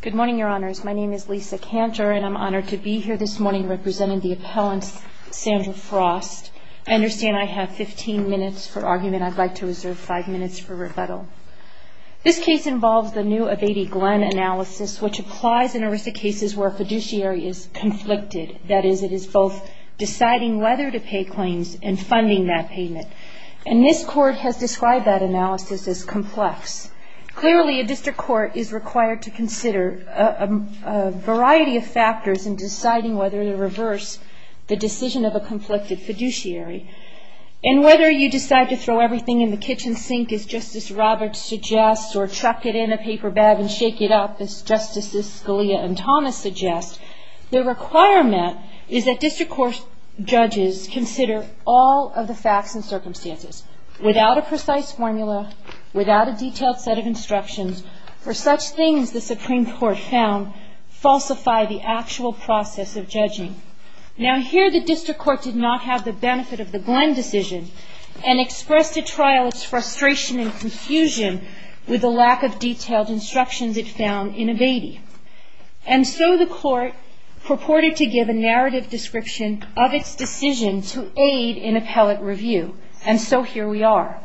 Good morning, Your Honors. My name is Lisa Cantor, and I'm honored to be here this morning representing the appellant Sandra Frost. I understand I have 15 minutes for argument. I'd like to reserve 5 minutes for rebuttal. This case involves the new Abate-Glenn analysis, which applies in a risk of cases where a fiduciary is conflicted. That is, it is both deciding whether to pay claims and funding that payment. And this Court has described that analysis as complex. Clearly, a district court is required to consider a variety of factors in deciding whether to reverse the decision of a conflicted fiduciary. And whether you decide to throw everything in the kitchen sink, as Justice Roberts suggests, or chuck it in a paper bag and shake it up, as Justices Scalia and Thomas suggest, the requirement is that district court judges consider all of the facts and circumstances, without a precise formula, without a detailed set of instructions, for such things the Supreme Court found falsify the actual process of judging. Now, here the district court did not have the benefit of the Glenn decision and expressed to trial its frustration and confusion with the lack of detailed instructions it found in Abate-Glenn. And so the Court purported to give a narrative description of its decision to aid in appellate review. And so here we are.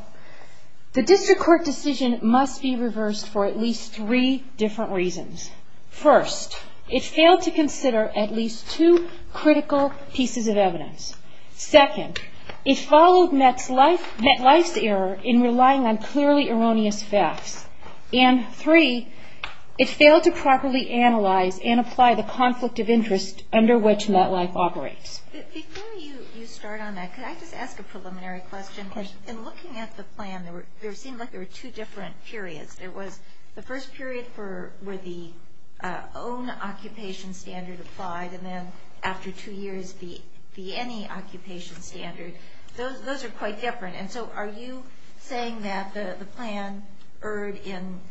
The district court decision must be reversed for at least three different reasons. First, it failed to consider at least two critical pieces of evidence. Second, it followed MetLife's error in relying on clearly erroneous facts. And three, it failed to properly analyze and apply the conflict of interest under which MetLife operates. Before you start on that, could I just ask a preliminary question? Of course. In looking at the plan, there seemed like there were two different periods. There was the first period where the own occupation standard applied, and then after two years the any occupation standard. Those are quite different. And so are you saying that the plan erred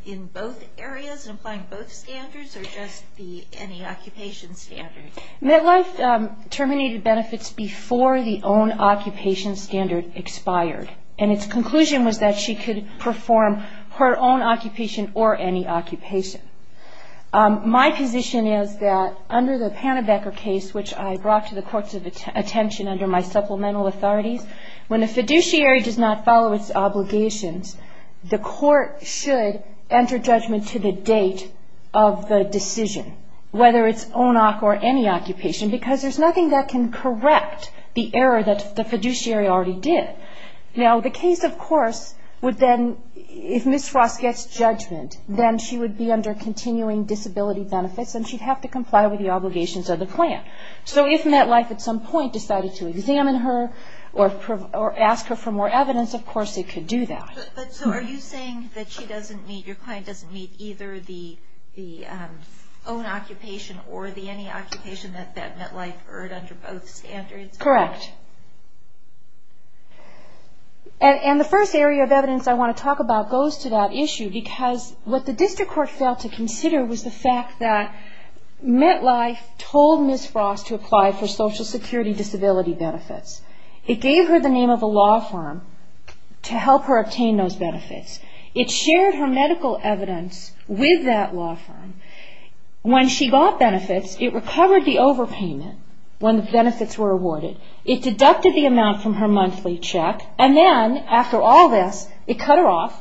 in both areas and applying both standards or just the any occupation standard? MetLife terminated benefits before the own occupation standard expired. And its conclusion was that she could perform her own occupation or any occupation. My position is that under the Pannebecker case, which I brought to the courts of attention under my supplemental authorities, when a fiduciary does not follow its obligations, the court should enter judgment to the date of the decision, whether it's ONOC or any occupation, because there's nothing that can correct the error that the fiduciary already did. Now, the case, of course, would then, if Ms. Frost gets judgment, then she would be under continuing disability benefits and she'd have to comply with the obligations of the plan. So if MetLife at some point decided to examine her or ask her for more evidence, of course they could do that. But so are you saying that she doesn't meet, your client doesn't meet either the own occupation or the any occupation that MetLife erred under both standards? Correct. And the first area of evidence I want to talk about goes to that issue, because what the district court failed to consider was the fact that MetLife told Ms. Frost to apply for social security disability benefits. It gave her the name of a law firm to help her obtain those benefits. It shared her medical evidence with that law firm. When she got benefits, it recovered the overpayment when the benefits were awarded. It deducted the amount from her monthly check. And then, after all this, it cut her off.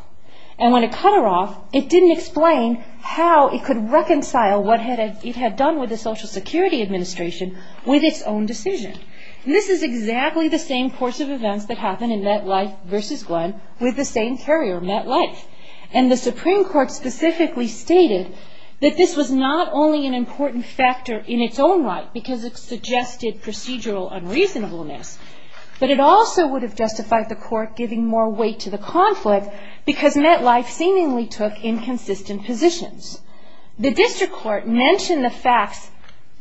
And when it cut her off, it didn't explain how it could reconcile what it had done with the Social Security Administration with its own decision. This is exactly the same course of events that happened in MetLife versus Glenn with the same carrier, MetLife. And the Supreme Court specifically stated that this was not only an important factor in its own right because it suggested procedural unreasonableness, but it also would have justified the court giving more weight to the conflict because MetLife seemingly took inconsistent positions. The district court mentioned the facts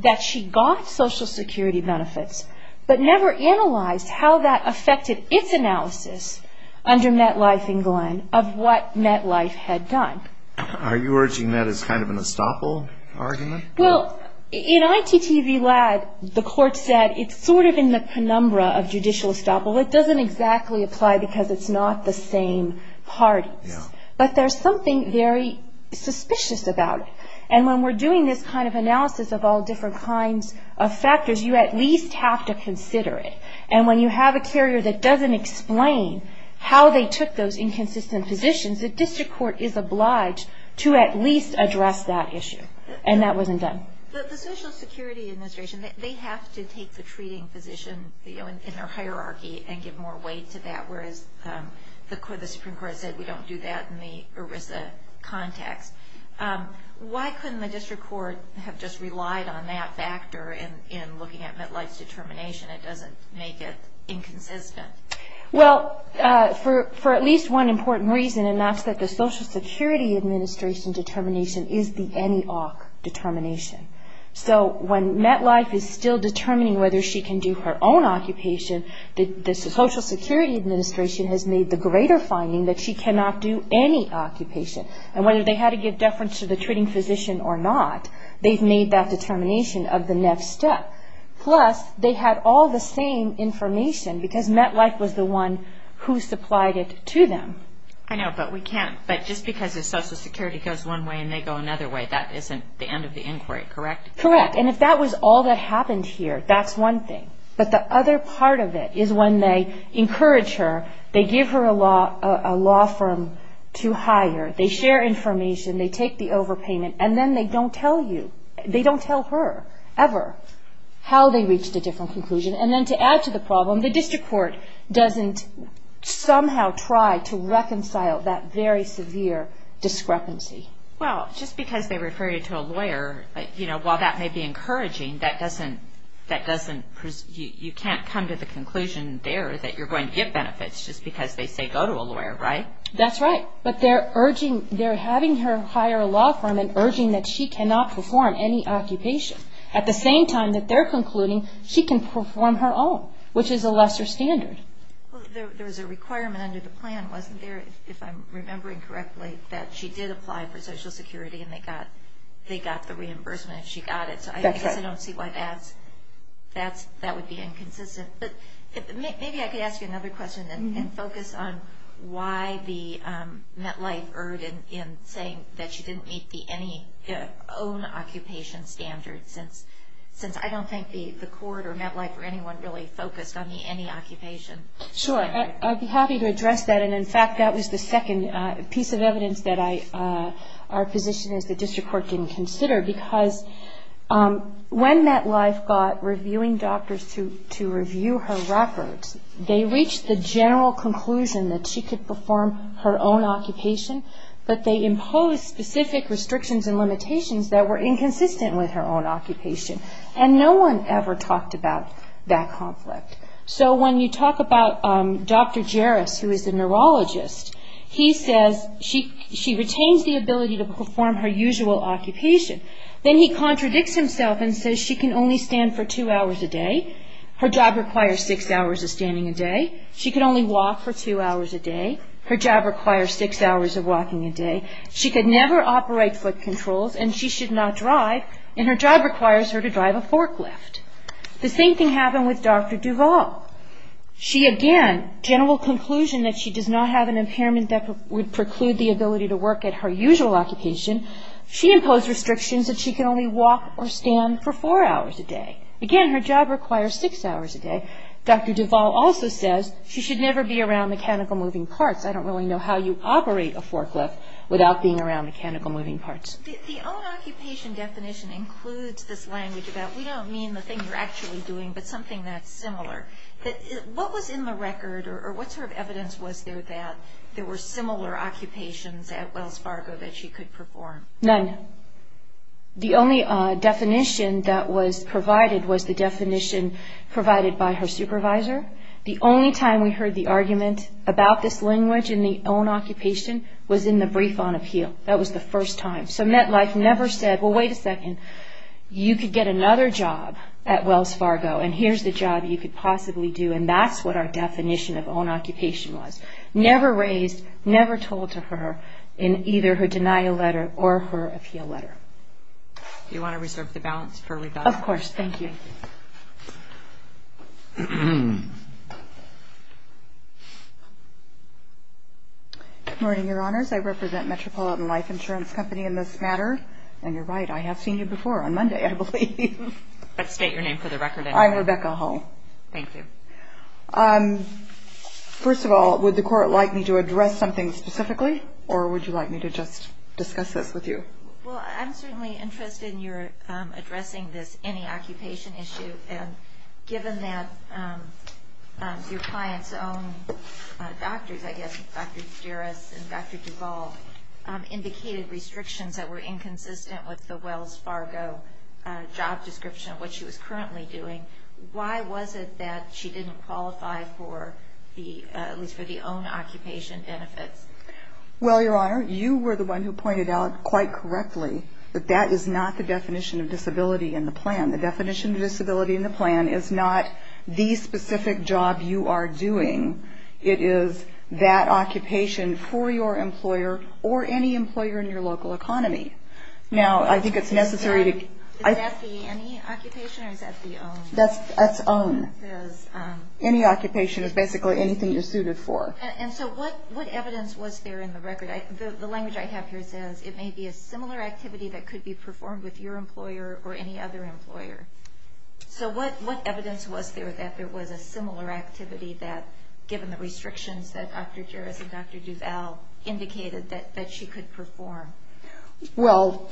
that she got Social Security benefits, but never analyzed how that affected its analysis under MetLife and Glenn of what MetLife had done. Are you urging that as kind of an estoppel argument? Well, in ITTV-LAD, the court said it's sort of in the penumbra of judicial estoppel. It doesn't exactly apply because it's not the same parties. But there's something very suspicious about it. And when we're doing this kind of analysis of all different kinds of factors, you at least have to consider it. And when you have a carrier that doesn't explain how they took those inconsistent positions, the district court is obliged to at least address that issue. And that wasn't done. The Social Security Administration, they have to take the treating physician in their hierarchy and give more weight to that, whereas the Supreme Court said we don't do that in the ERISA context. Why couldn't the district court have just relied on that factor in looking at MetLife's determination? It doesn't make it inconsistent. Well, for at least one important reason, and that's that the Social Security Administration determination is the NEOC determination. So when MetLife is still determining whether she can do her own occupation, the Social Security Administration has made the greater finding that she cannot do any occupation. And whether they had to give deference to the treating physician or not, they've made that determination of the next step. Plus, they had all the same information because MetLife was the one who supplied it to them. I know, but we can't. But just because the Social Security goes one way and they go another way, that isn't the end of the inquiry, correct? Correct. And if that was all that happened here, that's one thing. But the other part of it is when they encourage her, they give her a law firm to hire, they share information, they take the overpayment, and then they don't tell you, they don't tell her ever how they reached a different conclusion. And then to add to the problem, the district court doesn't somehow try to reconcile that very severe discrepancy. Well, just because they refer you to a lawyer, while that may be encouraging, you can't come to the conclusion there that you're going to get benefits just because they say go to a lawyer, right? That's right. But they're having her hire a law firm and urging that she cannot perform any occupation. At the same time that they're concluding she can perform her own, which is a lesser standard. There was a requirement under the plan, wasn't there, if I'm remembering correctly, that she did apply for Social Security and they got the reimbursement if she got it. So I guess I don't see why that would be inconsistent. But maybe I could ask you another question and focus on why the MetLife erred in saying that she didn't meet the any own occupation standards, since I don't think the court or MetLife or anyone really focused on the any occupation. Sure. I'd be happy to address that. And, in fact, that was the second piece of evidence that our position is that district court didn't consider. Because when MetLife got reviewing doctors to review her records, they reached the general conclusion that she could perform her own occupation, but they imposed specific restrictions and limitations that were inconsistent with her own occupation. And no one ever talked about that conflict. So when you talk about Dr. Jaris, who is a neurologist, he says she retains the ability to perform her usual occupation. Then he contradicts himself and says she can only stand for two hours a day, her job requires six hours of standing a day, she can only walk for two hours a day, her job requires six hours of walking a day, she could never operate foot controls, and she should not drive, and her job requires her to drive a forklift. The same thing happened with Dr. Duval. She, again, general conclusion that she does not have an impairment that would preclude the ability to work at her usual occupation, she imposed restrictions that she can only walk or stand for four hours a day. Again, her job requires six hours a day. Dr. Duval also says she should never be around mechanical moving parts. I don't really know how you operate a forklift without being around mechanical moving parts. The own occupation definition includes this language that we don't mean the thing you're actually doing, but something that's similar. What was in the record or what sort of evidence was there that there were similar occupations at Wells Fargo that she could perform? None. The only definition that was provided was the definition provided by her supervisor. The only time we heard the argument about this language in the own occupation was in the brief on appeal. So MetLife never said, well, wait a second, you could get another job at Wells Fargo, and here's the job you could possibly do, and that's what our definition of own occupation was. Never raised, never told to her in either her denial letter or her appeal letter. Do you want to reserve the balance for rebuttal? Of course. Thank you. Good morning, Your Honors. I represent Metropolitan Life Insurance Company in this matter. And you're right. I have seen you before on Monday, I believe. But state your name for the record. I'm Rebecca Hull. Thank you. First of all, would the Court like me to address something specifically, or would you like me to just discuss this with you? Well, I'm certainly interested in your addressing this any occupation issue, and given that your client's own doctors, I guess, Dr. Duras and Dr. Duvall, indicated restrictions that were inconsistent with the Wells Fargo job description of what she was currently doing, why was it that she didn't qualify for at least for the own occupation benefits? Well, Your Honor, you were the one who pointed out quite correctly that that is not the definition of disability in the plan. The definition of disability in the plan is not the specific job you are doing. It is that occupation for your employer or any employer in your local economy. Now, I think it's necessary to... Is that the any occupation or is that the own? That's own. Any occupation is basically anything you're suited for. And so what evidence was there in the record? The language I have here says it may be a similar activity that could be performed with your employer or any other employer. So what evidence was there that there was a similar activity that, given the restrictions that Dr. Duras and Dr. Duvall indicated, that she could perform? Well,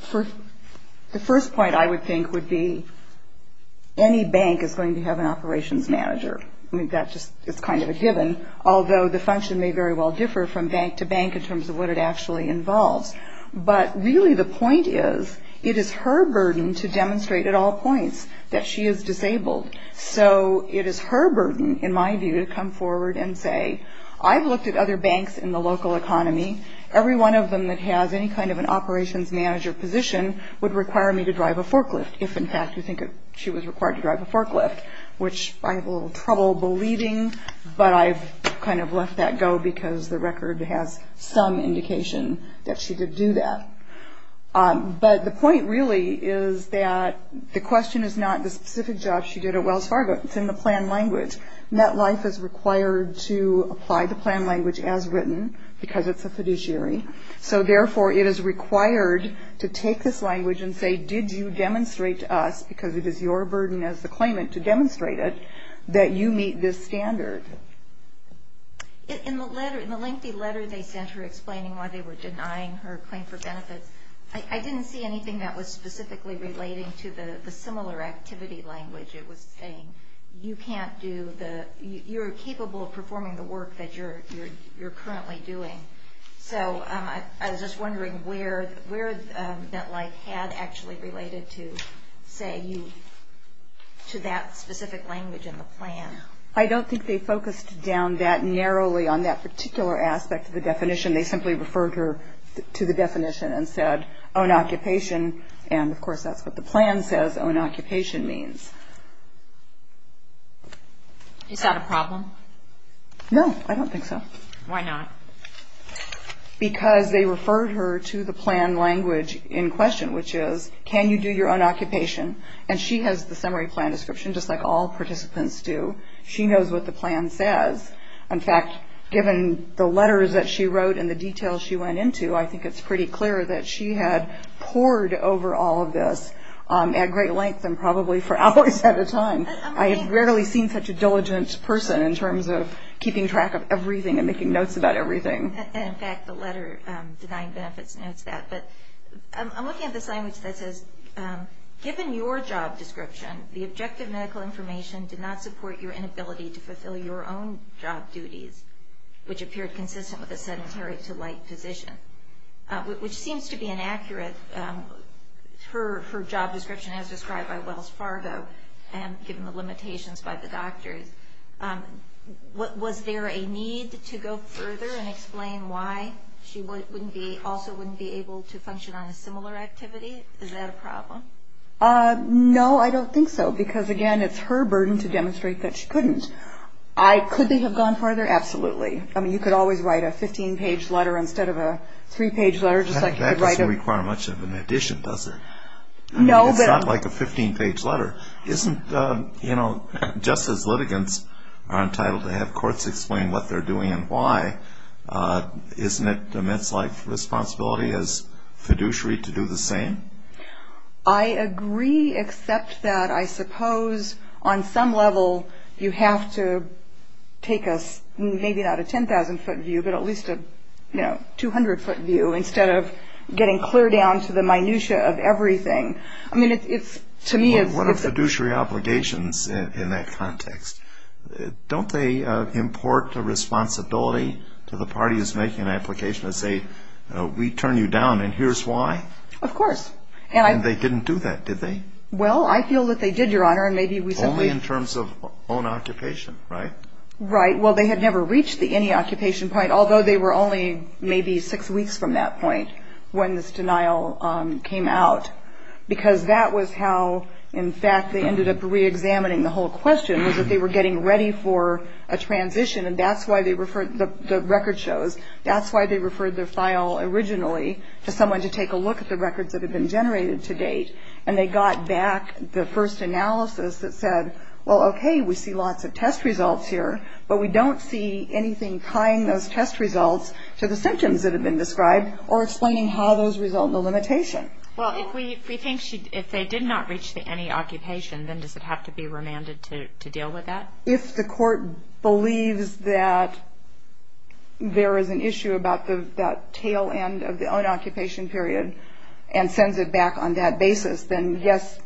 the first point, I would think, would be any bank is going to have an operations manager. I mean, that just is kind of a given, although the function may very well differ from bank to bank in terms of what it actually involves. But really the point is, it is her burden to demonstrate at all points that she is disabled. So it is her burden, in my view, to come forward and say, I've looked at other banks in the local economy. Every one of them that has any kind of an operations manager position would require me to drive a forklift, if, in fact, you think she was required to drive a forklift, which I have a little trouble believing, but I've kind of left that go because the record has some indication that she did do that. But the point, really, is that the question is not the specific job she did at Wells Fargo. It's in the plan language. MetLife is required to apply the plan language as written, because it's a fiduciary. So, therefore, it is required to take this language and say, did you demonstrate to us, because it is your burden as the claimant to demonstrate it, that you meet this standard? In the lengthy letter they sent her explaining why they were denying her claim for benefits, I didn't see anything that was specifically relating to the similar activity language. It was saying, you're capable of performing the work that you're currently doing. So I was just wondering where MetLife had actually related to, say, to that specific language in the plan. I don't think they focused down that narrowly on that particular aspect of the definition. They simply referred her to the definition and said, own occupation, and, of course, that's what the plan says own occupation means. Is that a problem? No, I don't think so. Why not? Because they referred her to the plan language in question, which is, can you do your own occupation? And she has the summary plan description, just like all participants do. She knows what the plan says. In fact, given the letters that she wrote and the details she went into, I think it's pretty clear that she had pored over all of this at great length and probably for hours at a time. I have rarely seen such a diligent person in terms of keeping track of everything and making notes about everything. And, in fact, the letter denying benefits notes that. But I'm looking at this language that says, given your job description, the objective medical information did not support your inability to fulfill your own job duties, which appeared consistent with a sedentary to light position, which seems to be inaccurate. Her job description, as described by Wells Fargo, and given the limitations by the doctors, was there a need to go further and explain why she also wouldn't be able to function on a similar activity? Is that a problem? No, I don't think so. Because, again, it's her burden to demonstrate that she couldn't. Could they have gone further? Absolutely. I mean, you could always write a 15-page letter instead of a three-page letter. That doesn't require much of an addition, does it? No. It's not like a 15-page letter. Isn't, you know, just as litigants are entitled to have courts explain what they're doing and why, isn't it a men's life responsibility as fiduciary to do the same? I agree, except that I suppose on some level you have to take us, maybe not a 10,000-foot view, but at least a, you know, 200-foot view, instead of getting clear down to the minutia of everything. I mean, it's, to me, it's... What are fiduciary obligations in that context? Don't they import a responsibility to the party that's making an application and say, we turn you down and here's why? Of course. And they didn't do that, did they? Well, I feel that they did, Your Honor, and maybe we simply... Only in terms of own occupation, right? Right. Well, they had never reached the any occupation point, although they were only maybe six weeks from that point when this denial came out. Because that was how, in fact, they ended up reexamining the whole question, was that they were getting ready for a transition, and that's why they referred the record shows. That's why they referred the file originally to someone to take a look at the records that had been generated to date. And they got back the first analysis that said, well, okay, we see lots of test results here, but we don't see anything tying those test results to the symptoms that have been described or explaining how those result in a limitation. Well, if they did not reach the any occupation, then does it have to be remanded to deal with that? If the court believes that there is an issue about that tail end of the own occupation period and sends it back on that basis, then, yes,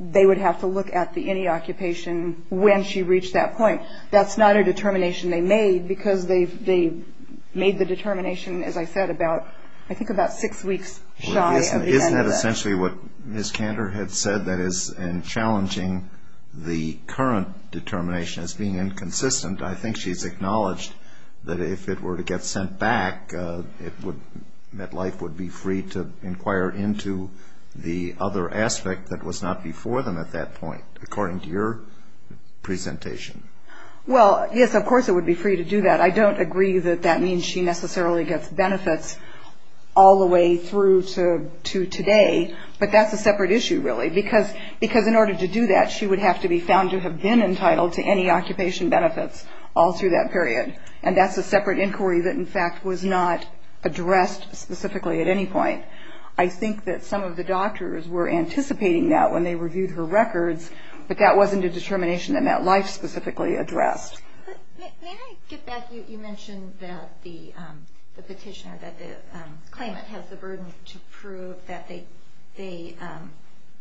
they would have to look at the any occupation when she reached that point. That's not a determination they made because they made the determination, as I said, about, I think, about six weeks shy of the end of that. Isn't that essentially what Ms. Kander had said? That is, in challenging the current determination as being inconsistent, I think she's acknowledged that if it were to get sent back, that life would be free to inquire into the other aspect that was not before them at that point, according to your presentation. Well, yes, of course it would be free to do that. I don't agree that that means she necessarily gets benefits all the way through to today, but that's a separate issue, really, because in order to do that, she would have to be found to have been entitled to any occupation benefits all through that period, and that's a separate inquiry that, in fact, was not addressed specifically at any point. I think that some of the doctors were anticipating that when they reviewed her records, but that wasn't a determination that MetLife specifically addressed. May I get back? You mentioned that the petitioner, that the claimant, has the burden to prove that they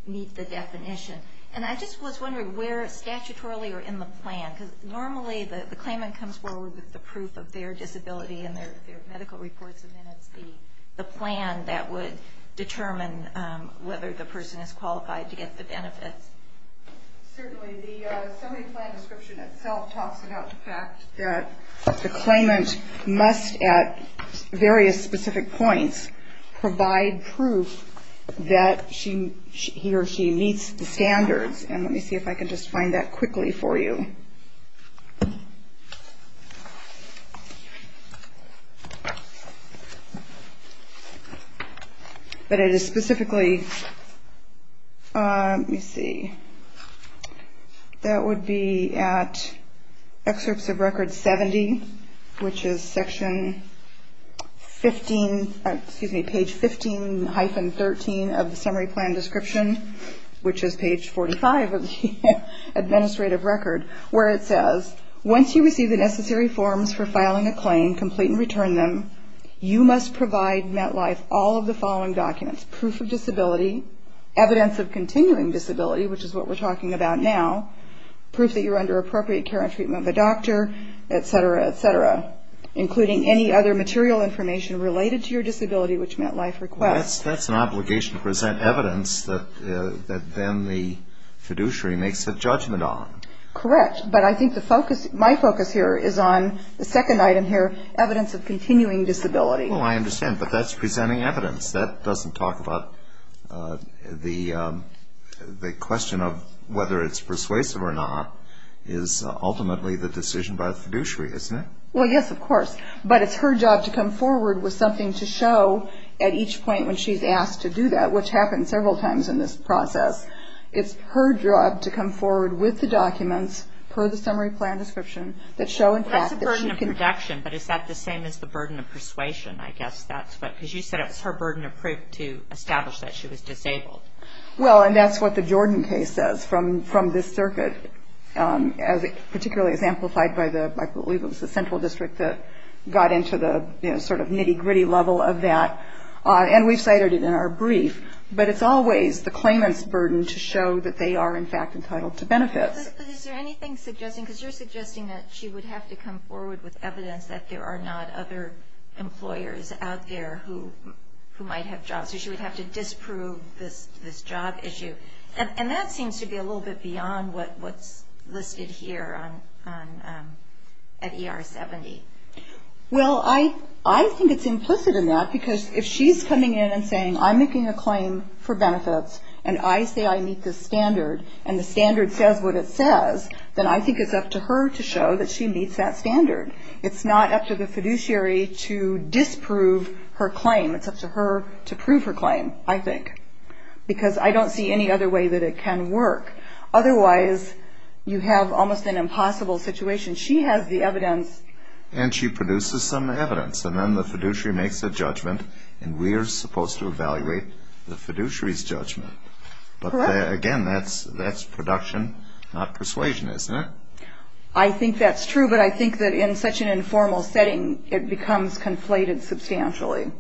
meet the definition, and I just was wondering where statutorily or in the plan, because normally the claimant comes forward with the proof of their disability and their medical reports, and then it's the plan that would determine whether the person is qualified to get the benefits. Certainly. The summary plan description itself talks about the fact that the claimant must, at various specific points, provide proof that he or she meets the standards, and let me see if I can just find that quickly for you. But it is specifically, let me see, that would be at excerpts of record 70, which is section 15, excuse me, page 15-13 of the summary plan description, which is page 45 of the administrative record, where it says, once you receive the necessary forms for filing a claim, complete and return them, you must provide MetLife all of the following documents, proof of disability, evidence of continuing disability, which is what we're talking about now, proof that you're under appropriate care and treatment of a doctor, et cetera, et cetera, including any other material information related to your disability, which MetLife requests. That's an obligation to present evidence that then the fiduciary makes a judgment on. Correct. But I think my focus here is on the second item here, evidence of continuing disability. Oh, I understand. But that's presenting evidence. That doesn't talk about the question of whether it's persuasive or not is ultimately the decision by the fiduciary, isn't it? Well, yes, of course. But it's her job to come forward with something to show at each point when she's asked to do that, which happens several times in this process. It's her job to come forward with the documents per the summary plan description that show in fact that she can That's the burden of production, but is that the same as the burden of persuasion? I guess that's what, because you said it was her burden of proof to establish that she was disabled. Well, and that's what the Jordan case says from this circuit, as it particularly is amplified by the, I believe it was the central district that got into the, you know, sort of nitty-gritty level of that. And we've cited it in our brief. But it's always the claimant's burden to show that they are in fact entitled to benefits. But is there anything suggesting, because you're suggesting that she would have to come forward with evidence that there are not other employers out there who might have jobs, so she would have to disprove this job issue. And that seems to be a little bit beyond what's listed here at ER 70. Well, I think it's implicit in that, because if she's coming in and saying, I'm making a claim for benefits, and I say I meet this standard, and the standard says what it says, then I think it's up to her to show that she meets that standard. It's not up to the fiduciary to disprove her claim. It's up to her to prove her claim, I think, because I don't see any other way that it can work. Otherwise, you have almost an impossible situation. She has the evidence. And she produces some evidence, and then the fiduciary makes a judgment, and we are supposed to evaluate the fiduciary's judgment. Correct. But again, that's production, not persuasion, isn't it? I think that's true, but I think that in such an informal setting, it becomes conflated substantially.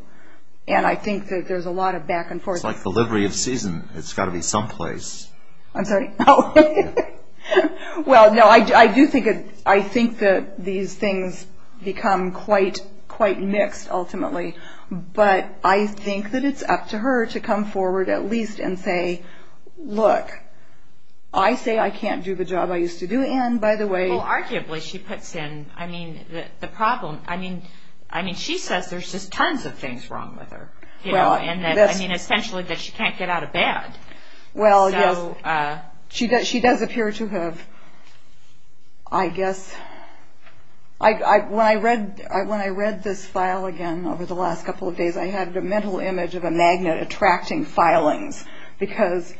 And I think that there's a lot of back and forth. It's like the livery of season. It's got to be someplace. I'm sorry? Well, no, I do think that these things become quite mixed ultimately, but I think that it's up to her to come forward at least and say, look, I say I can't do the job I used to do, and by the way. Well, arguably, she puts in, I mean, the problem. I mean, she says there's just tons of things wrong with her, you know, and that, I mean, essentially that she can't get out of bed. Well, yes, she does appear to have, I guess. When I read this file again over the last couple of days, I had a mental image of a magnet attracting filings because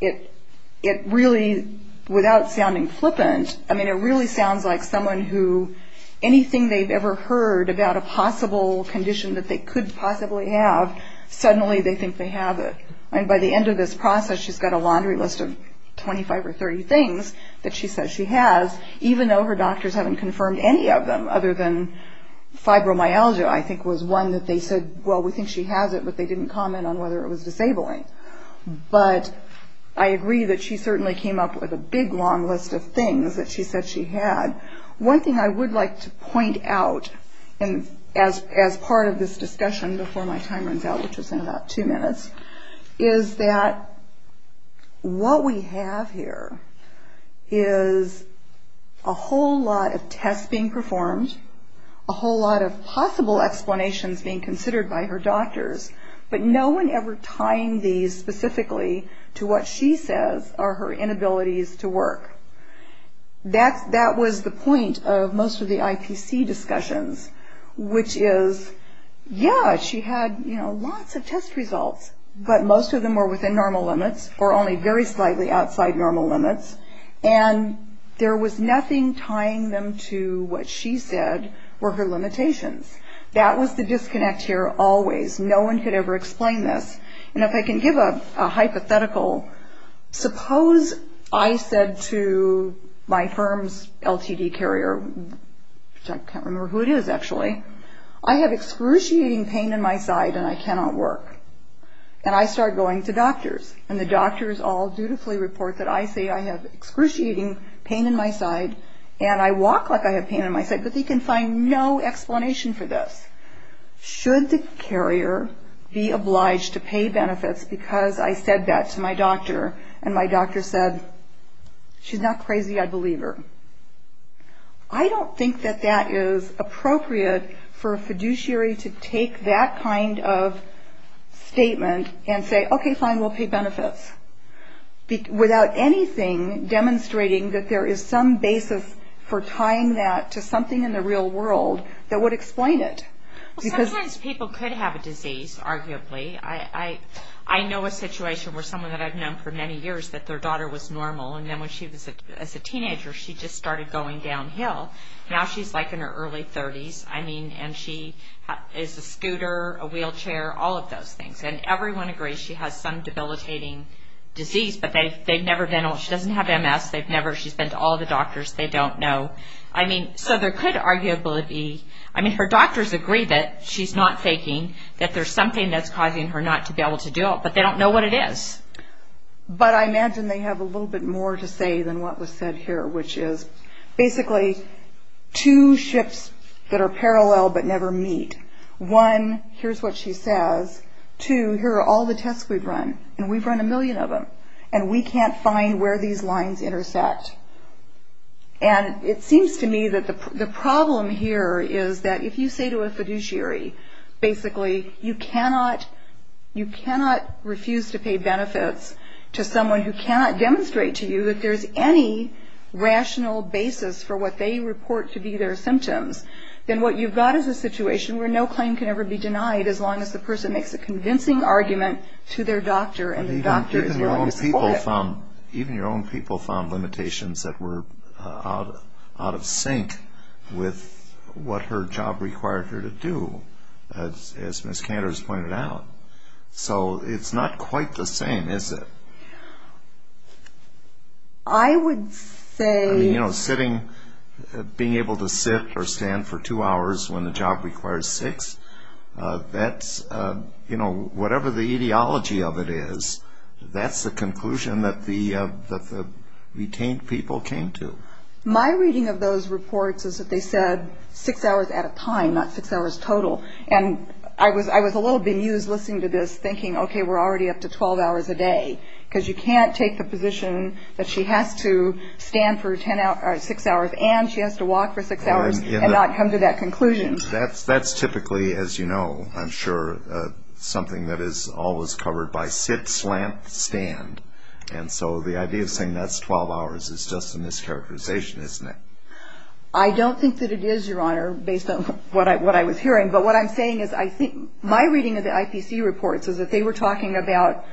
it really, without sounding flippant, I mean, it really sounds like someone who anything they've ever heard about a possible condition that they could possibly have, suddenly they think they have it. I mean, by the end of this process, she's got a laundry list of 25 or 30 things that she says she has, even though her doctors haven't confirmed any of them other than fibromyalgia, I think, was one that they said, well, we think she has it, but they didn't comment on whether it was disabling. But I agree that she certainly came up with a big, long list of things that she said she had. One thing I would like to point out as part of this discussion before my time runs out, which is in about two minutes, is that what we have here is a whole lot of tests being performed, a whole lot of possible explanations being considered by her doctors, but no one ever tying these specifically to what she says are her inabilities to work. That was the point of most of the IPC discussions, which is, yeah, she had lots of test results, but most of them were within normal limits or only very slightly outside normal limits, and there was nothing tying them to what she said were her limitations. That was the disconnect here always. No one could ever explain this. And if I can give a hypothetical, suppose I said to my firm's LTD carrier, which I can't remember who it is, actually, I have excruciating pain in my side and I cannot work. And I start going to doctors, and the doctors all dutifully report that I say I have excruciating pain in my side and I walk like I have pain in my side, but they can find no explanation for this. Should the carrier be obliged to pay benefits because I said that to my doctor and my doctor said, she's not crazy, I believe her? I don't think that that is appropriate for a fiduciary to take that kind of statement and say, okay, fine, we'll pay benefits, without anything demonstrating that there is some basis for tying that to something in the real world that would explain it. Sometimes people could have a disease, arguably. I know a situation where someone that I've known for many years that their daughter was normal and then when she was a teenager she just started going downhill. Now she's like in her early 30s, and she is a scooter, a wheelchair, all of those things. And everyone agrees she has some debilitating disease, but they've never been, she doesn't have MS, she's been to all the doctors, they don't know. I mean, so there could arguably be, I mean, her doctors agree that she's not faking, that there's something that's causing her not to be able to do it, but they don't know what it is. But I imagine they have a little bit more to say than what was said here, which is basically two ships that are parallel but never meet. One, here's what she says. Two, here are all the tests we've run, and we've run a million of them, and we can't find where these lines intersect. And it seems to me that the problem here is that if you say to a fiduciary, basically, you cannot refuse to pay benefits to someone who cannot demonstrate to you that there's any rational basis for what they report to be their symptoms, then what you've got is a situation where no claim can ever be denied as long as the person makes a convincing argument to their doctor and the doctor is willing to support it. You found, even your own people found limitations that were out of sync with what her job required her to do, as Ms. Cantor has pointed out. So it's not quite the same, is it? I would say... I mean, you know, sitting, being able to sit or stand for two hours when the job requires six, that's, you know, whatever the ideology of it is, that's the conclusion that the retained people came to. My reading of those reports is that they said six hours at a time, not six hours total. And I was a little bemused listening to this, thinking, okay, we're already up to 12 hours a day, because you can't take the position that she has to stand for six hours and she has to walk for six hours and not come to that conclusion. That's typically, as you know, I'm sure, something that is always covered by sit, slant, stand. And so the idea of saying that's 12 hours is just a mischaracterization, isn't it? I don't think that it is, Your Honor, based on what I was hearing. But what I'm saying is my reading of the IPC reports is that they were talking about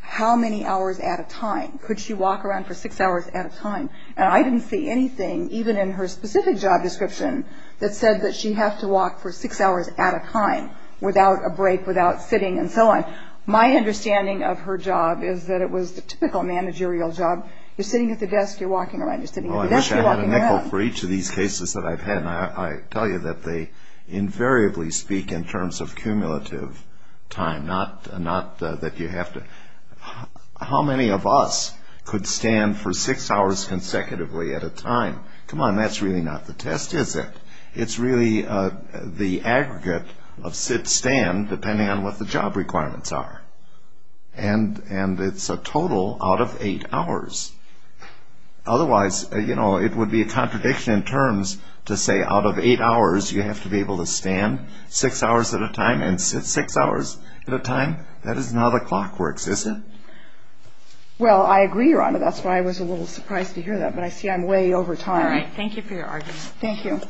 how many hours at a time. Could she walk around for six hours at a time? And I didn't see anything, even in her specific job description, that said that she has to walk for six hours at a time without a break, without sitting and so on. My understanding of her job is that it was the typical managerial job. You're sitting at the desk. You're walking around. You're sitting at the desk. You're walking around. Well, I wish I had a nickel for each of these cases that I've had. And I tell you that they invariably speak in terms of cumulative time, not that you have to. How many of us could stand for six hours consecutively at a time? Come on, that's really not the test, is it? It's really the aggregate of sit, stand, depending on what the job requirements are. And it's a total out of eight hours. Otherwise, you know, it would be a contradiction in terms to say out of eight hours, you have to be able to stand six hours at a time and sit six hours at a time. That is not how the clock works, is it? Well, I agree, Your Honor. That's why I was a little surprised to hear that. But I see I'm way over time. All right. Thank you for your argument. Thank you.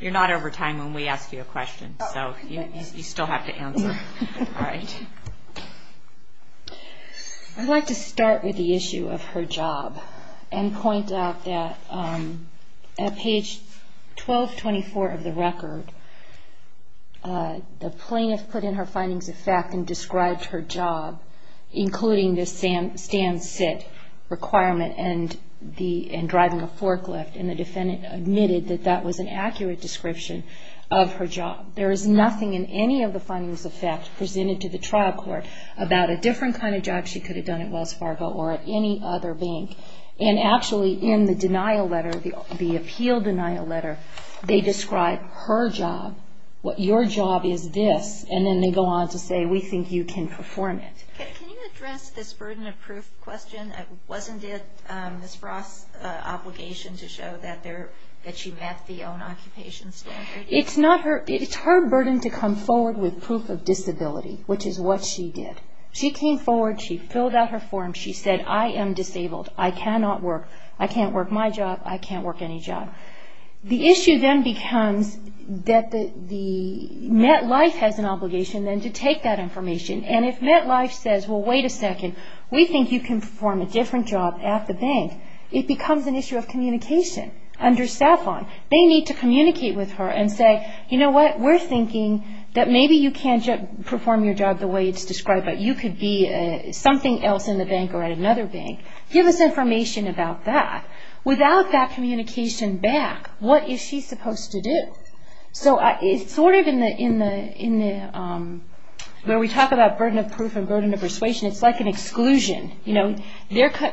You're not over time when we ask you a question, so you still have to answer. All right. I'd like to start with the issue of her job and point out that at page 1224 of the record, the plaintiff put in her findings of fact and described her job, including the stand, sit requirement and driving a forklift, and the defendant admitted that that was an accurate description of her job. There is nothing in any of the findings of fact presented to the trial court about a different kind of job she could have done at Wells Fargo or at any other bank. And actually in the denial letter, the appeal denial letter, they describe her job, what your job is this, and then they go on to say we think you can perform it. Can you address this burden of proof question? Wasn't it Ms. Ross' obligation to show that she met the own occupation standard? It's her burden to come forward with proof of disability, which is what she did. She came forward. She filled out her form. She said, I am disabled. I cannot work. I can't work my job. I can't work any job. The issue then becomes that the MetLife has an obligation then to take that information, and if MetLife says, well, wait a second, we think you can perform a different job at the bank, it becomes an issue of communication under SAFON. They need to communicate with her and say, you know what, we're thinking that maybe you can't perform your job the way it's described, but you could be something else in the bank or at another bank. Give us information about that. Without that communication back, what is she supposed to do? So it's sort of in the, where we talk about burden of proof and burden of persuasion, it's like an exclusion.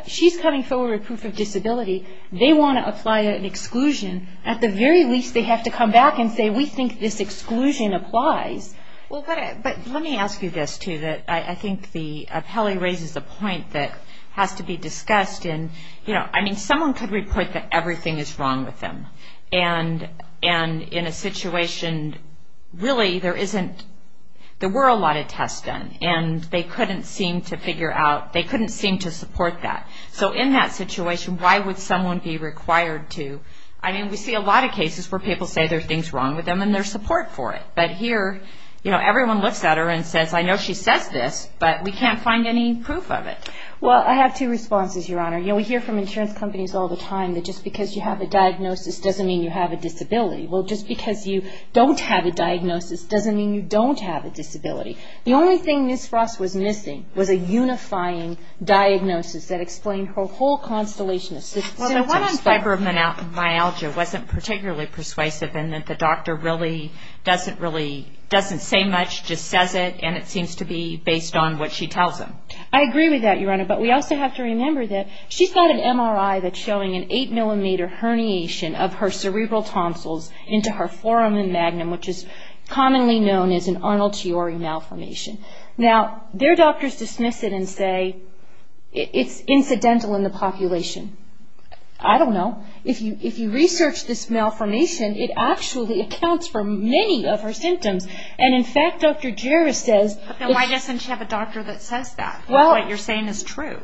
She's coming forward with proof of disability. They want to apply an exclusion. At the very least, they have to come back and say, we think this exclusion applies. Well, but let me ask you this, too, that I think the appellee raises a point that has to be discussed, and, you know, I mean, someone could report that everything is wrong with them, and in a situation really there isn't, there were a lot of tests done, and they couldn't seem to figure out, they couldn't seem to support that. So in that situation, why would someone be required to? I mean, we see a lot of cases where people say there's things wrong with them, and there's support for it. But here, you know, everyone looks at her and says, I know she says this, but we can't find any proof of it. Well, I have two responses, Your Honor. You know, we hear from insurance companies all the time that just because you have a diagnosis doesn't mean you have a disability. Well, just because you don't have a diagnosis doesn't mean you don't have a disability. The only thing Ms. Ross was missing was a unifying diagnosis that explained her whole constellation of symptoms. Well, the one on fibromyalgia wasn't particularly persuasive in that the doctor really doesn't say much, just says it, and it seems to be based on what she tells him. I agree with that, Your Honor, but we also have to remember that she's got an MRI that's showing an 8-millimeter herniation of her cerebral tonsils into her foramen magnum, which is commonly known as an Arnold-Chiori malformation. Now, their doctors dismiss it and say it's incidental in the population. I don't know. If you research this malformation, it actually accounts for many of her symptoms. And, in fact, Dr. Jarvis says Then why doesn't she have a doctor that says that, that what you're saying is true?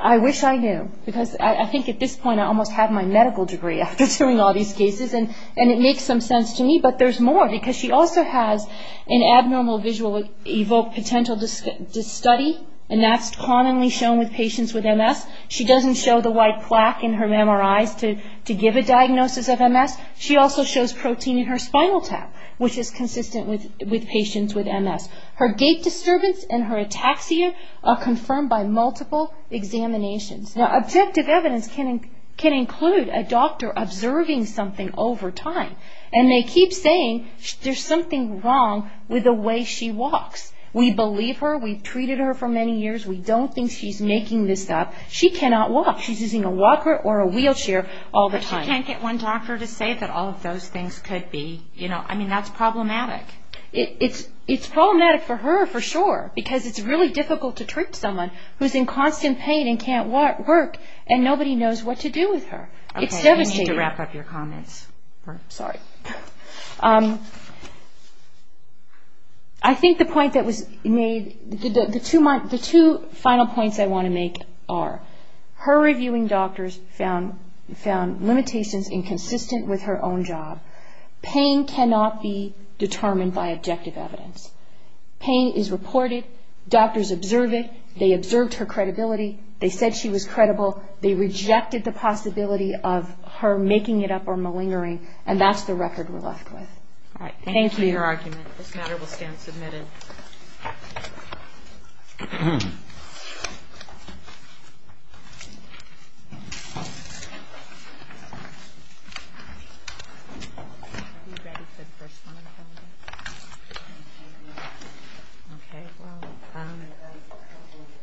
I wish I knew, because I think at this point I almost have my medical degree after doing all these cases, and it makes some sense to me. But there's more, because she also has an abnormal visual evoked potential to study, and that's commonly shown with patients with MS. She doesn't show the white plaque in her MRIs to give a diagnosis of MS. She also shows protein in her spinal tap, which is consistent with patients with MS. Her gait disturbance and her ataxia are confirmed by multiple examinations. Now, objective evidence can include a doctor observing something over time, and they keep saying there's something wrong with the way she walks. We believe her. We've treated her for many years. We don't think she's making this up. She cannot walk. She's using a walker or a wheelchair all the time. But she can't get one doctor to say that all of those things could be, you know. I mean, that's problematic. It's problematic for her, for sure, because it's really difficult to treat someone who's in constant pain and can't work, and nobody knows what to do with her. It's devastating. I need to wrap up your comments. Sorry. I think the point that was made, the two final points I want to make are, her reviewing doctors found limitations inconsistent with her own job. Pain cannot be determined by objective evidence. Pain is reported. Doctors observe it. They observed her credibility. They said she was credible. They rejected the possibility of her making it up or malingering, and that's the record we're left with. Thank you. Thank you for your argument. This matter will stand submitted. Thank you.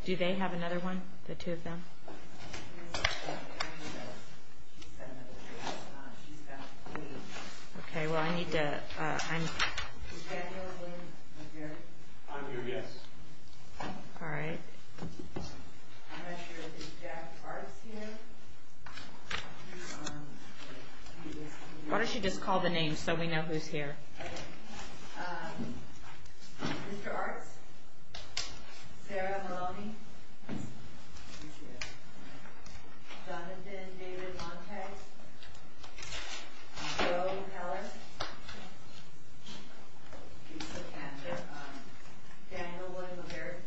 Do they have another one, the two of them? Okay. Well, I need to – I'm – All right. Why don't you just call the names so we know who's here. Okay. Mr. Arts. Sarah Maloney. Jonathan David Montes. Joe Heller. Daniel Woodward.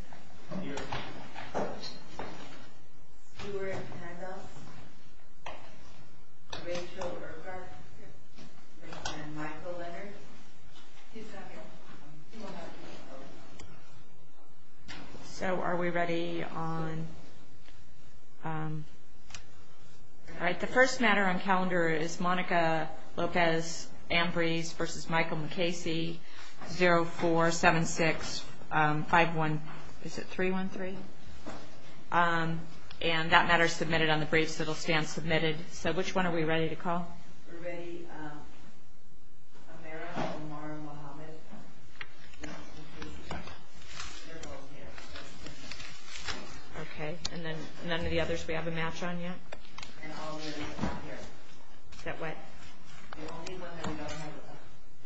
Stuart Handels. Rachel Urquhart. And Michael Leonard. Two seconds. So are we ready on – all right. The first matter on calendar is Monica Lopez-Ambrise v. Michael MacCasey, 0476-5133. And that matter is submitted on the briefs. It will stand submitted. So which one are we ready to call? We're ready. Amara Omar Mohamed. Okay. And then none of the others we have a match on yet? Is that what? The only one that we don't have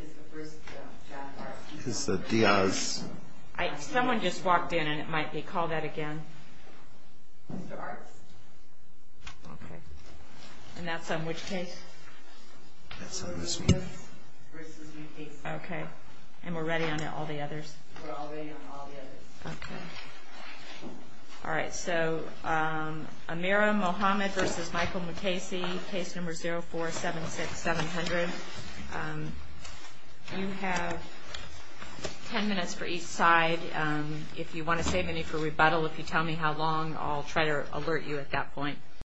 is the first – Is the Diaz. Someone just walked in and it might be – call that again. Mr. Arts. Okay. And that's on which case? That's on this meeting. Okay. And we're ready on all the others? We're all ready on all the others. Okay. All right. So Amara Mohamed v. Michael MacCasey, case number 0476-700. You have ten minutes for each side. If you want to save any for rebuttal, if you tell me how long, I'll try to alert you at that point.